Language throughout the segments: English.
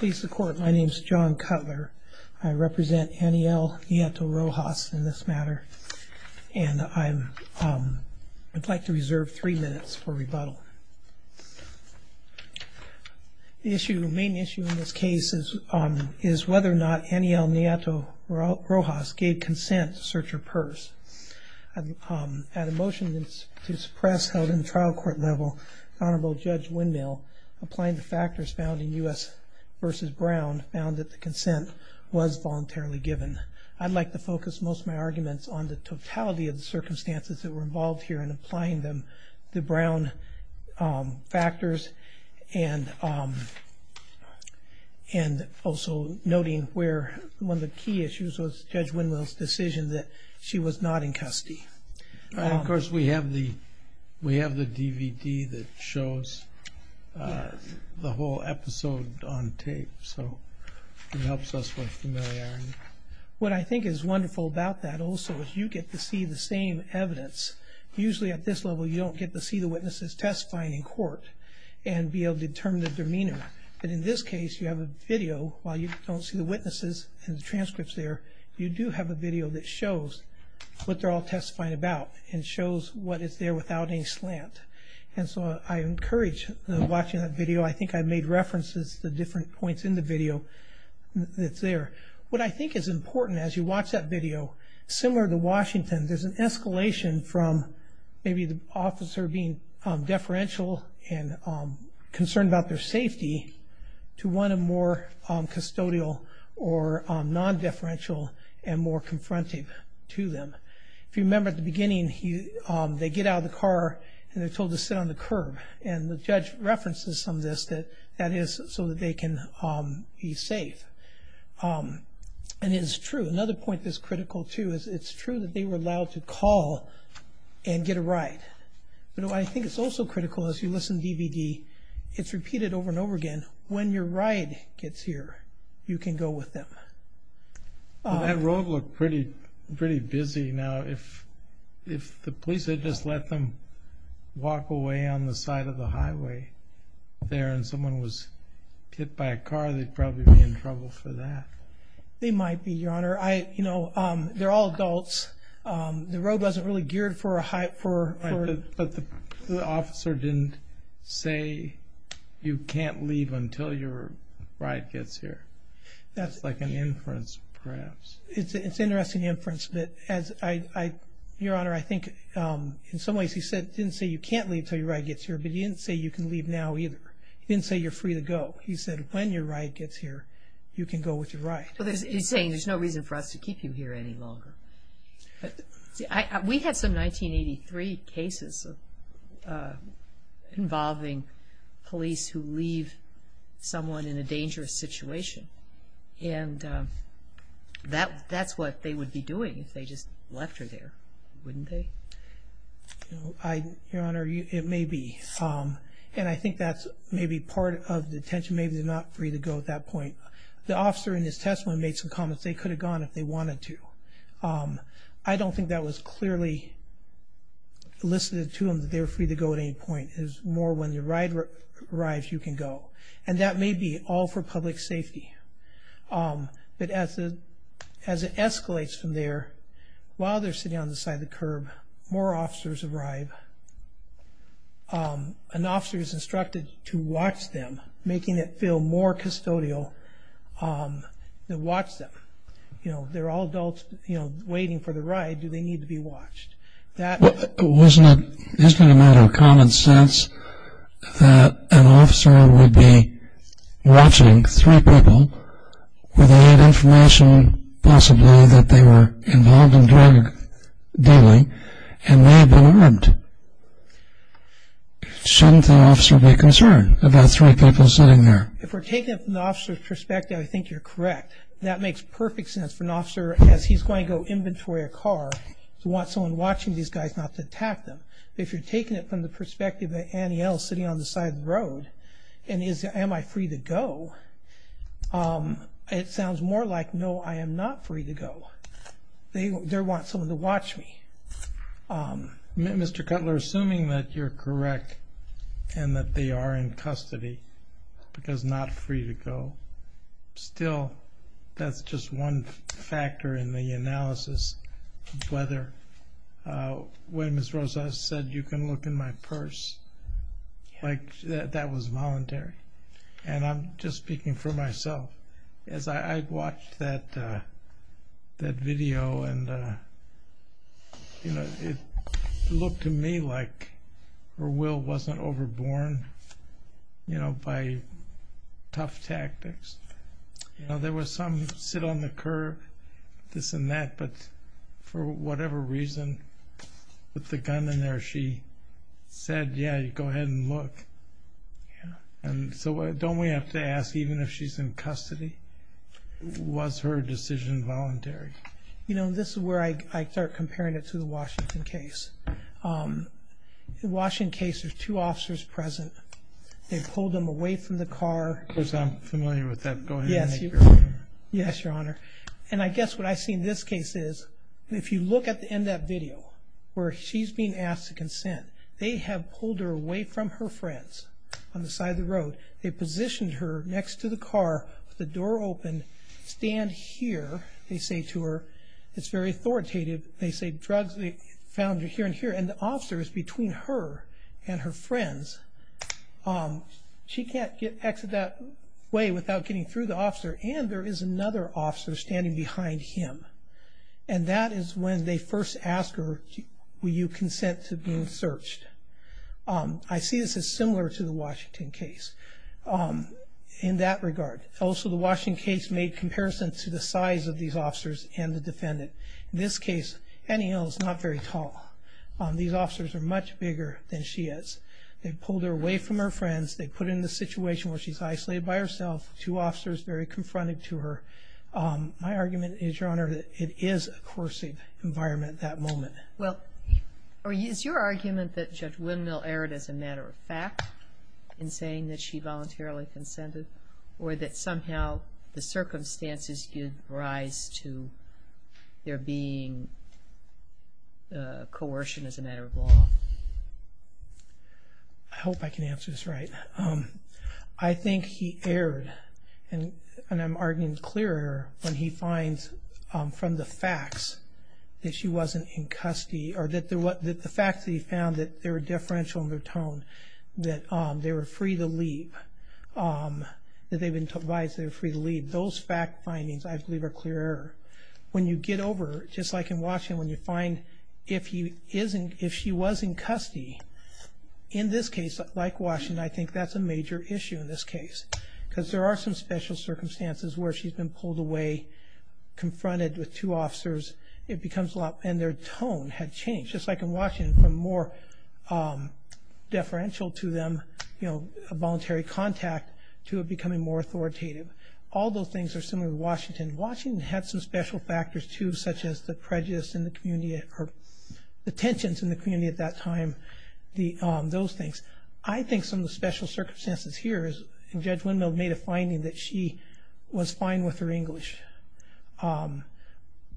My name is John Cutler. I represent Anayell Nieto Rojas in this matter, and I would like to reserve three minutes for rebuttal. The main issue in this case is whether or not Anayell Nieto Rojas gave consent to search her purse. At a motion to this press held in trial court level, Honorable Judge Windmill, applying the factors found in U.S. v. Brown, found that the consent was voluntarily given. I'd like to focus most of my arguments on the totality of the circumstances that were involved here and applying them to Brown factors, and also noting where one of the key issues was Judge Windmill's decision that she was not in custody. Of course, we have the DVD that shows the whole episode on tape, so it helps us with familiarity. What I think is wonderful about that also is you get to see the same evidence. Usually at this level you don't get to see the witnesses testifying in court and be able to determine their demeanor, but in this case you have a video while you don't see the witnesses and the transcripts there. You do have a video that shows what they're all testifying about and shows what is there without any slant, and so I encourage watching that video. I think I made references to different points in the video that's there. What I think is important as you watch that video, similar to Washington, there's an escalation from maybe the officer being deferential and concerned about their safety to one of more custodial or non-deferential and more confrontive to them. If you remember at the beginning, they get out of the car and they're told to sit on the curb, and the judge references some of this that that is so that they can be safe, and it's true. Another point that's critical, too, is it's true that they were allowed to call and get a ride, but I think it's also critical as you listen to the DVD, it's repeated over and over again, when your ride gets here, you can go with them. That road looked pretty busy now. If the police had just let them walk away on the side of the highway there and someone was hit by a car, they'd probably be in trouble for that. They might be, Your Honor. They're all adults. The road wasn't really geared for a high... But the officer didn't say you can't leave until your ride gets here. That's like an inference, perhaps. It's an interesting inference, but Your Honor, I think in some ways he didn't say you can't leave until your ride gets here, but he didn't say you can leave now either. He didn't say you're free to go. He said when your ride gets here, you can go with your ride. He's saying there's no reason for us to keep you here any longer. We had some 1983 cases involving police who leave someone in a dangerous situation and that's what they would be doing if they just left her there, wouldn't they? Your Honor, it may be, and I think that's maybe part of the tension. Maybe they're not free to go at that point. The officer in his testimony made some comments. They could have gone if they wanted to. I don't think that was clearly elicited to them that they were free to go at any point. It was more when your ride arrives, you can go. And that may be all for public safety, but as it escalates from there, while they're sitting on the side of the curb, more officers arrive. An officer is instructed to watch them, making it feel more custodial to watch them. They're all adults waiting for the ride. Do they need to be watched? Isn't it a matter of common sense that an officer would be watching three people without information possibly that they were involved in drug dealing and may have been armed? Shouldn't the officer be concerned about three people sitting there? If we're taking it from the officer's perspective, I think you're correct. That makes perfect sense for an officer as he's going to go inventory a car to want someone watching these guys not to attack them. If you're taking it from the perspective of Annie L. sitting on the side of the road, and is, am I free to go? It sounds more like, no, I am not free to go. They want someone to watch me. Mr. Cutler, assuming that you're correct and that they are in custody because not free to go, when Ms. Rosa said, you can look in my purse, that was voluntary. I'm just speaking for myself. As I watched that video, it looked to me like her will wasn't overborne by tough tactics. There was some sit on the curb, this and that, but for whatever reason, with the gun in there, she said, yeah, you go ahead and look. Don't we have to ask even if she's in custody? Was her decision voluntary? This is where I start comparing it to the Washington case. The Washington case, there's two officers present. They pulled them away from the car. Of course, I'm familiar with that. Go ahead. Yes, Your Honor. And I guess what I see in this case is, if you look at the end of that video, where she's being asked to consent, they have pulled her away from her friends on the side of the road. They positioned her next to the car with the door open. Stand here, they say to her. It's very authoritative. They say drugs, they found her here and here. And the officer is between her and her friends. She can't exit that way without getting through the officer, and there is another officer standing behind him. And that is when they first ask her, will you consent to being searched? I see this as similar to the Washington case in that regard. Also, the Washington case made comparison to the size of these officers and the defendant. In this case, Annie Hill is not very tall. These officers are much bigger than she is. They pulled her away from her friends. They put her in the situation where she's isolated by herself, two officers very confronted to her. My argument is, Your Honor, that it is a coercive environment at that moment. Well, is your argument that Judge Windmill erred as a matter of fact in saying that she voluntarily consented or that somehow the circumstances give rise to there being coercion as a matter of law? I hope I can answer this right. I think he erred, and I'm arguing clearer when he finds from the facts that she wasn't in custody or that the facts that he found that there were differential in their tone, that they were free to leave, that they've been advised they were free to leave. Those fact findings, I believe, are clearer. When you get over, just like in Washington, when you find if she was in custody, in this case, like Washington, I think that's a major issue in this case because there are some special circumstances where she's been pulled away, confronted with two officers, and their tone had changed. Just like in Washington, from more deferential to them, a voluntary contact, to becoming more authoritative. All those things are similar in Washington. Washington had some special factors, too, such as the prejudice in the community or the tensions in the community at that time, those things. I think some of the special circumstances here is Judge Windmill made a finding that she was fine with her English.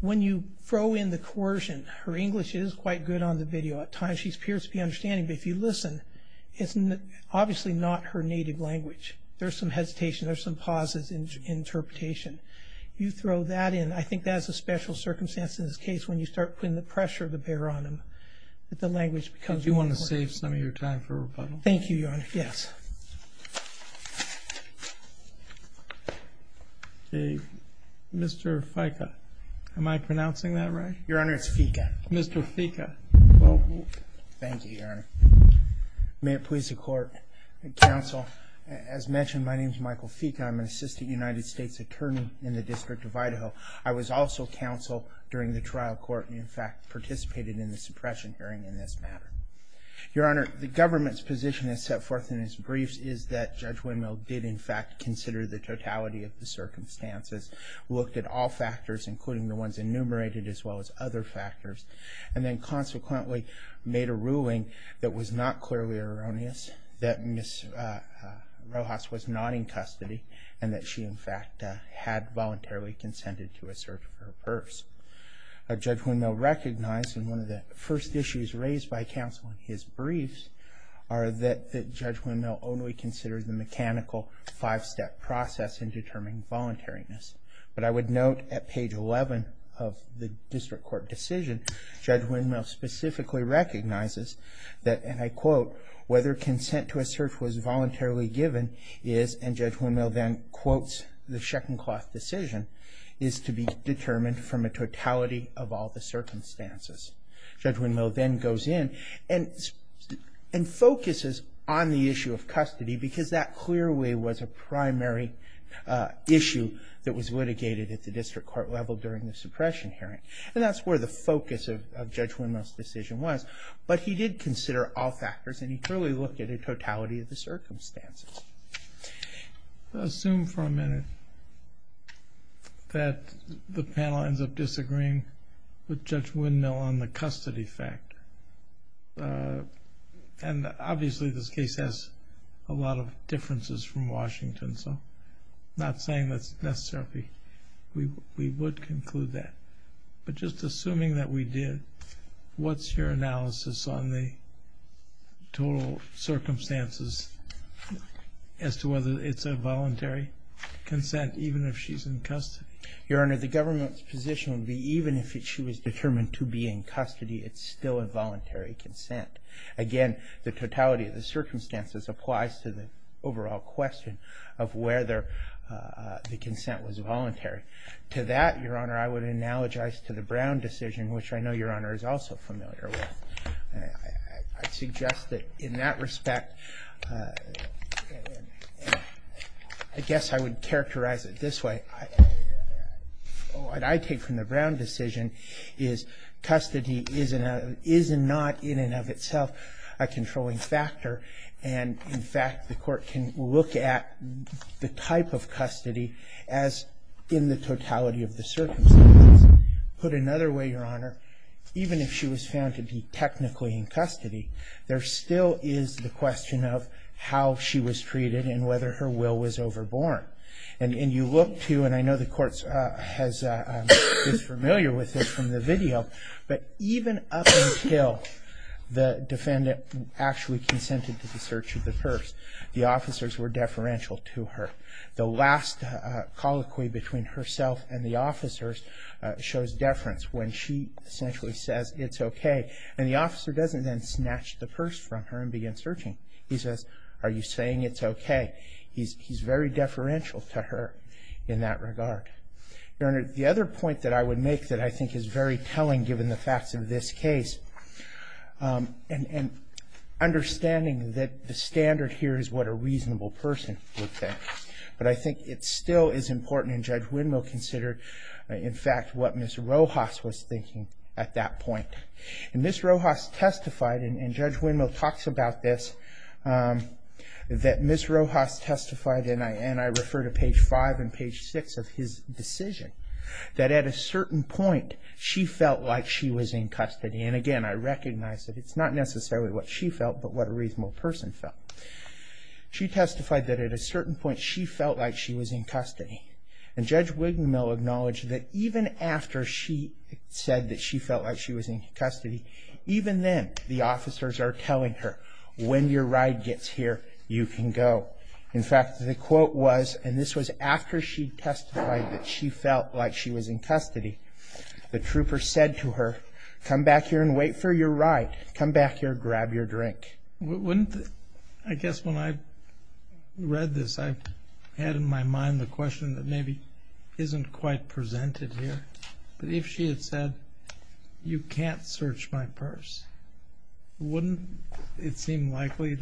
When you throw in the coercion, her English is quite good on the video. At times she appears to be understanding, but if you listen, it's obviously not her native language. There's some hesitation. There's some pauses in interpretation. You throw that in, I think that's a special circumstance in this case when you start putting the pressure to bear on them that the language becomes more important. I'm going to save some of your time for rebuttal. Thank you, Your Honor. Yes. Mr. Ficca, am I pronouncing that right? Your Honor, it's Ficca. Mr. Ficca. Thank you, Your Honor. May it please the Court. Counsel, as mentioned, my name is Michael Ficca. I'm an assistant United States attorney in the District of Idaho. I was also counsel during the trial court and, in fact, participated in the suppression hearing in this matter. Your Honor, the government's position as set forth in its briefs is that Judge Windmill did, in fact, consider the totality of the circumstances, looked at all factors, including the ones enumerated, as well as other factors, and then consequently made a ruling that was not clearly erroneous, that Ms. Rojas was not in custody, and that she, in fact, had voluntarily consented to a search of her purse. Judge Windmill recognized, and one of the first issues raised by counsel in his briefs are that Judge Windmill only considered the mechanical five-step process in determining voluntariness. But I would note at page 11 of the district court decision, Judge Windmill specifically recognizes that, and I quote, whether consent to a search was voluntarily given is, and Judge Windmill then quotes the Sheck and Cloth decision, is to be determined from a totality of all the circumstances. Judge Windmill then goes in and focuses on the issue of custody because that clearly was a primary issue that was litigated at the district court level during the suppression hearing. And that's where the focus of Judge Windmill's decision was. But he did consider all factors, and he clearly looked at a totality of the circumstances. Assume for a minute that the panel ends up disagreeing with Judge Windmill on the custody fact. And obviously this case has a lot of differences from Washington, so I'm not saying that's necessary. We would conclude that. But just assuming that we did, what's your analysis on the total circumstances as to whether it's a voluntary consent even if she's in custody? Your Honor, the government's position would be even if she was determined to be in custody, it's still a voluntary consent. Again, the totality of the circumstances applies to the overall question of whether the consent was voluntary. To that, Your Honor, I would analogize to the Brown decision, which I know Your Honor is also familiar with. I suggest that in that respect, I guess I would characterize it this way. What I take from the Brown decision is custody is not in and of itself a controlling factor. As in the totality of the circumstances. Put another way, Your Honor, even if she was found to be technically in custody, there still is the question of how she was treated and whether her will was overborne. And you look to, and I know the court is familiar with this from the video, but even up until the defendant actually consented to the search of the purse, the officers were deferential to her. The last colloquy between herself and the officers shows deference when she essentially says, it's okay. And the officer doesn't then snatch the purse from her and begin searching. He says, are you saying it's okay? He's very deferential to her in that regard. Your Honor, the other point that I would make that I think is very telling given the facts of this case, and understanding that the standard here is what a reasonable person would think. But I think it still is important, and Judge Windmill considered, in fact, what Ms. Rojas was thinking at that point. And Ms. Rojas testified, and Judge Windmill talks about this, that Ms. Rojas testified, and I refer to page 5 and page 6 of his decision, that at a certain point she felt like she was in custody. And again, I recognize that it's not necessarily what she felt, but what a reasonable person felt. She testified that at a certain point she felt like she was in custody. And Judge Windmill acknowledged that even after she said that she felt like she was in custody, even then the officers are telling her, when your ride gets here, you can go. In fact, the quote was, and this was after she testified that she felt like she was in custody, the trooper said to her, come back here and wait for your ride. Come back here, grab your drink. Wouldn't, I guess when I read this, I had in my mind the question that maybe isn't quite presented here. But if she had said, you can't search my purse, wouldn't it seem likely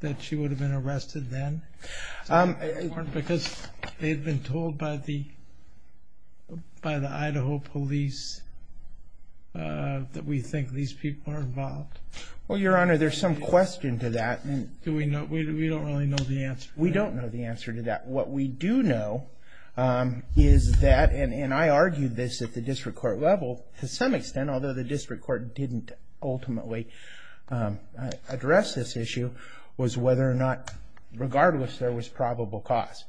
that she would have been arrested then? Because they've been told by the Idaho police that we think these people are involved. Well, Your Honor, there's some question to that. We don't really know the answer. We don't know the answer to that. What we do know is that, and I argued this at the district court level to some extent, although the district court didn't ultimately address this issue, was whether or not, regardless, there was probable cause.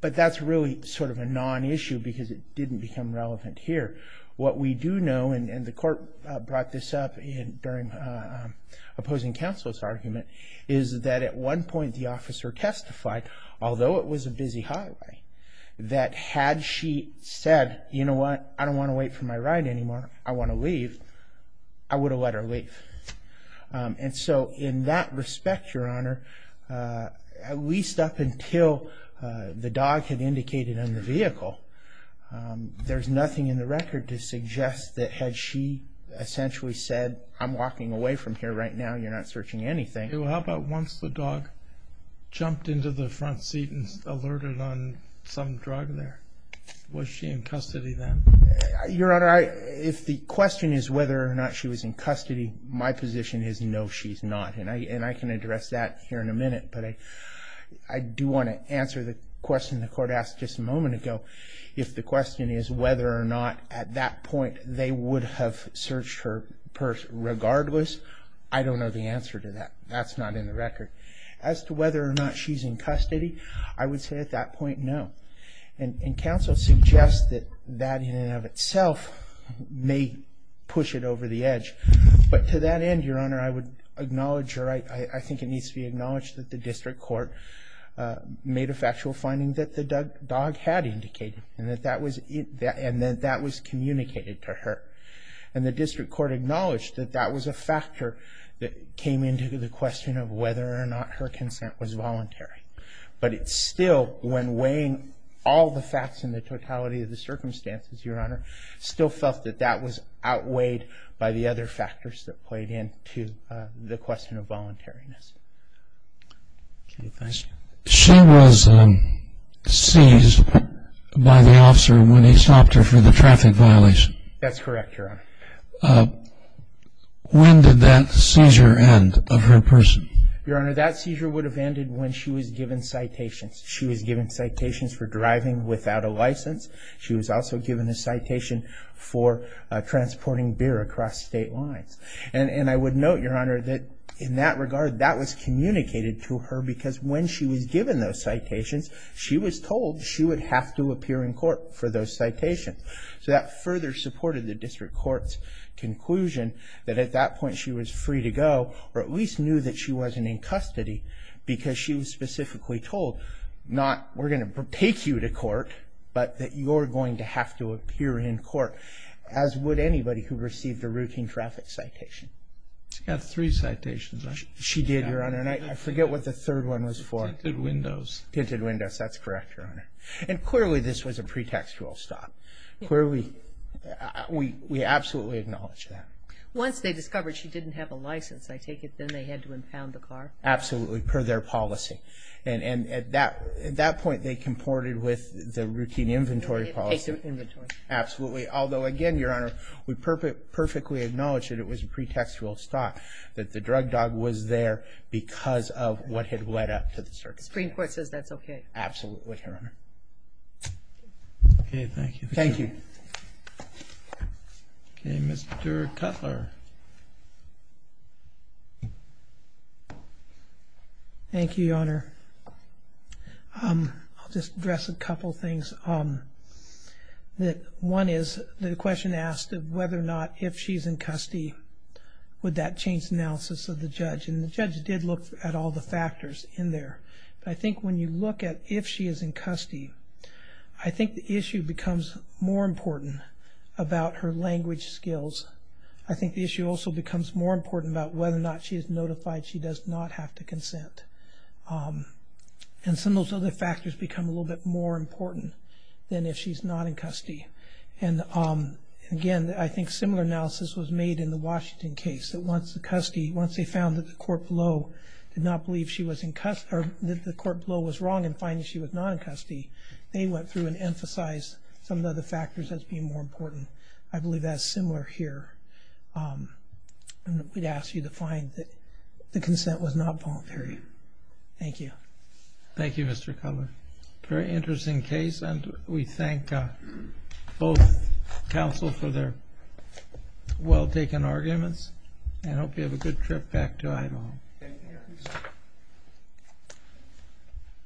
But that's really sort of a non-issue because it didn't become relevant here. What we do know, and the court brought this up during opposing counsel's argument, is that at one point the officer testified, although it was a busy highway, that had she said, you know what, I don't want to wait for my ride anymore, I want to leave, I would have let her leave. And so in that respect, Your Honor, at least up until the dog had indicated on the vehicle, there's nothing in the record to suggest that had she essentially said, I'm walking away from here right now, you're not searching anything. How about once the dog jumped into the front seat and alerted on some drug there? Was she in custody then? Your Honor, if the question is whether or not she was in custody, my position is no, she's not. And I can address that here in a minute. But I do want to answer the question the court asked just a moment ago. If the question is whether or not at that point they would have searched her purse regardless, I don't know the answer to that. That's not in the record. As to whether or not she's in custody, I would say at that point, no. And counsel suggests that that in and of itself may push it over the edge. But to that end, Your Honor, I would acknowledge or I think it needs to be acknowledged that the district court made a factual finding that the dog had indicated and that that was communicated to her. And the district court acknowledged that that was a factor that came into the question of whether or not her consent was voluntary. But it still, when weighing all the facts and the totality of the circumstances, Your Honor, still felt that that was outweighed by the other factors that played into the question of voluntariness. She was seized by the officer when he stopped her for the traffic violation. That's correct, Your Honor. When did that seizure end of her purse? Your Honor, that seizure would have ended when she was given citations. She was given citations for driving without a license. She was also given a citation for transporting beer across state lines. And I would note, Your Honor, that in that regard, that was communicated to her because when she was given those citations, she was told she would have to appear in court for those citations. So that further supported the district court's conclusion that at that point she was free to go or at least knew that she wasn't in custody because she was specifically told not, we're going to take you to court, but that you're going to have to appear in court, as would anybody who received a routine traffic citation. She got three citations, right? She did, Your Honor. And I forget what the third one was for. Tinted windows. Tinted windows. That's correct, Your Honor. And clearly this was a pretextual stop. Clearly, we absolutely acknowledge that. Once they discovered she didn't have a license, I take it then they had to impound the car? Absolutely, per their policy. And at that point they comported with the routine inventory policy. Absolutely. Although, again, Your Honor, we perfectly acknowledge that it was a pretextual stop, that the drug dog was there because of what had led up to the circumstances. The Supreme Court says that's okay. Absolutely, Your Honor. Okay, thank you. Thank you. Okay, Mr. Cutler. Thank you, Your Honor. I'll just address a couple things. One is the question asked of whether or not if she's in custody, would that change the analysis of the judge? And the judge did look at all the factors in there. But I think when you look at if she is in custody, I think the issue becomes more important about her language skills. I think the issue also becomes more important about whether or not she is notified she does not have to consent. And some of those other factors become a little bit more important than if she's not in custody. And, again, I think similar analysis was made in the Washington case. Once they found that the court below was wrong in finding she was not in custody, they went through and emphasized some of the other factors as being more important. I believe that's similar here. And we'd ask you to find that the consent was not voluntary. Thank you. Thank you, Mr. Cutler. Very interesting case. And we thank both counsel for their well-taken arguments. And I hope you have a good trip back to Idaho. Thank you.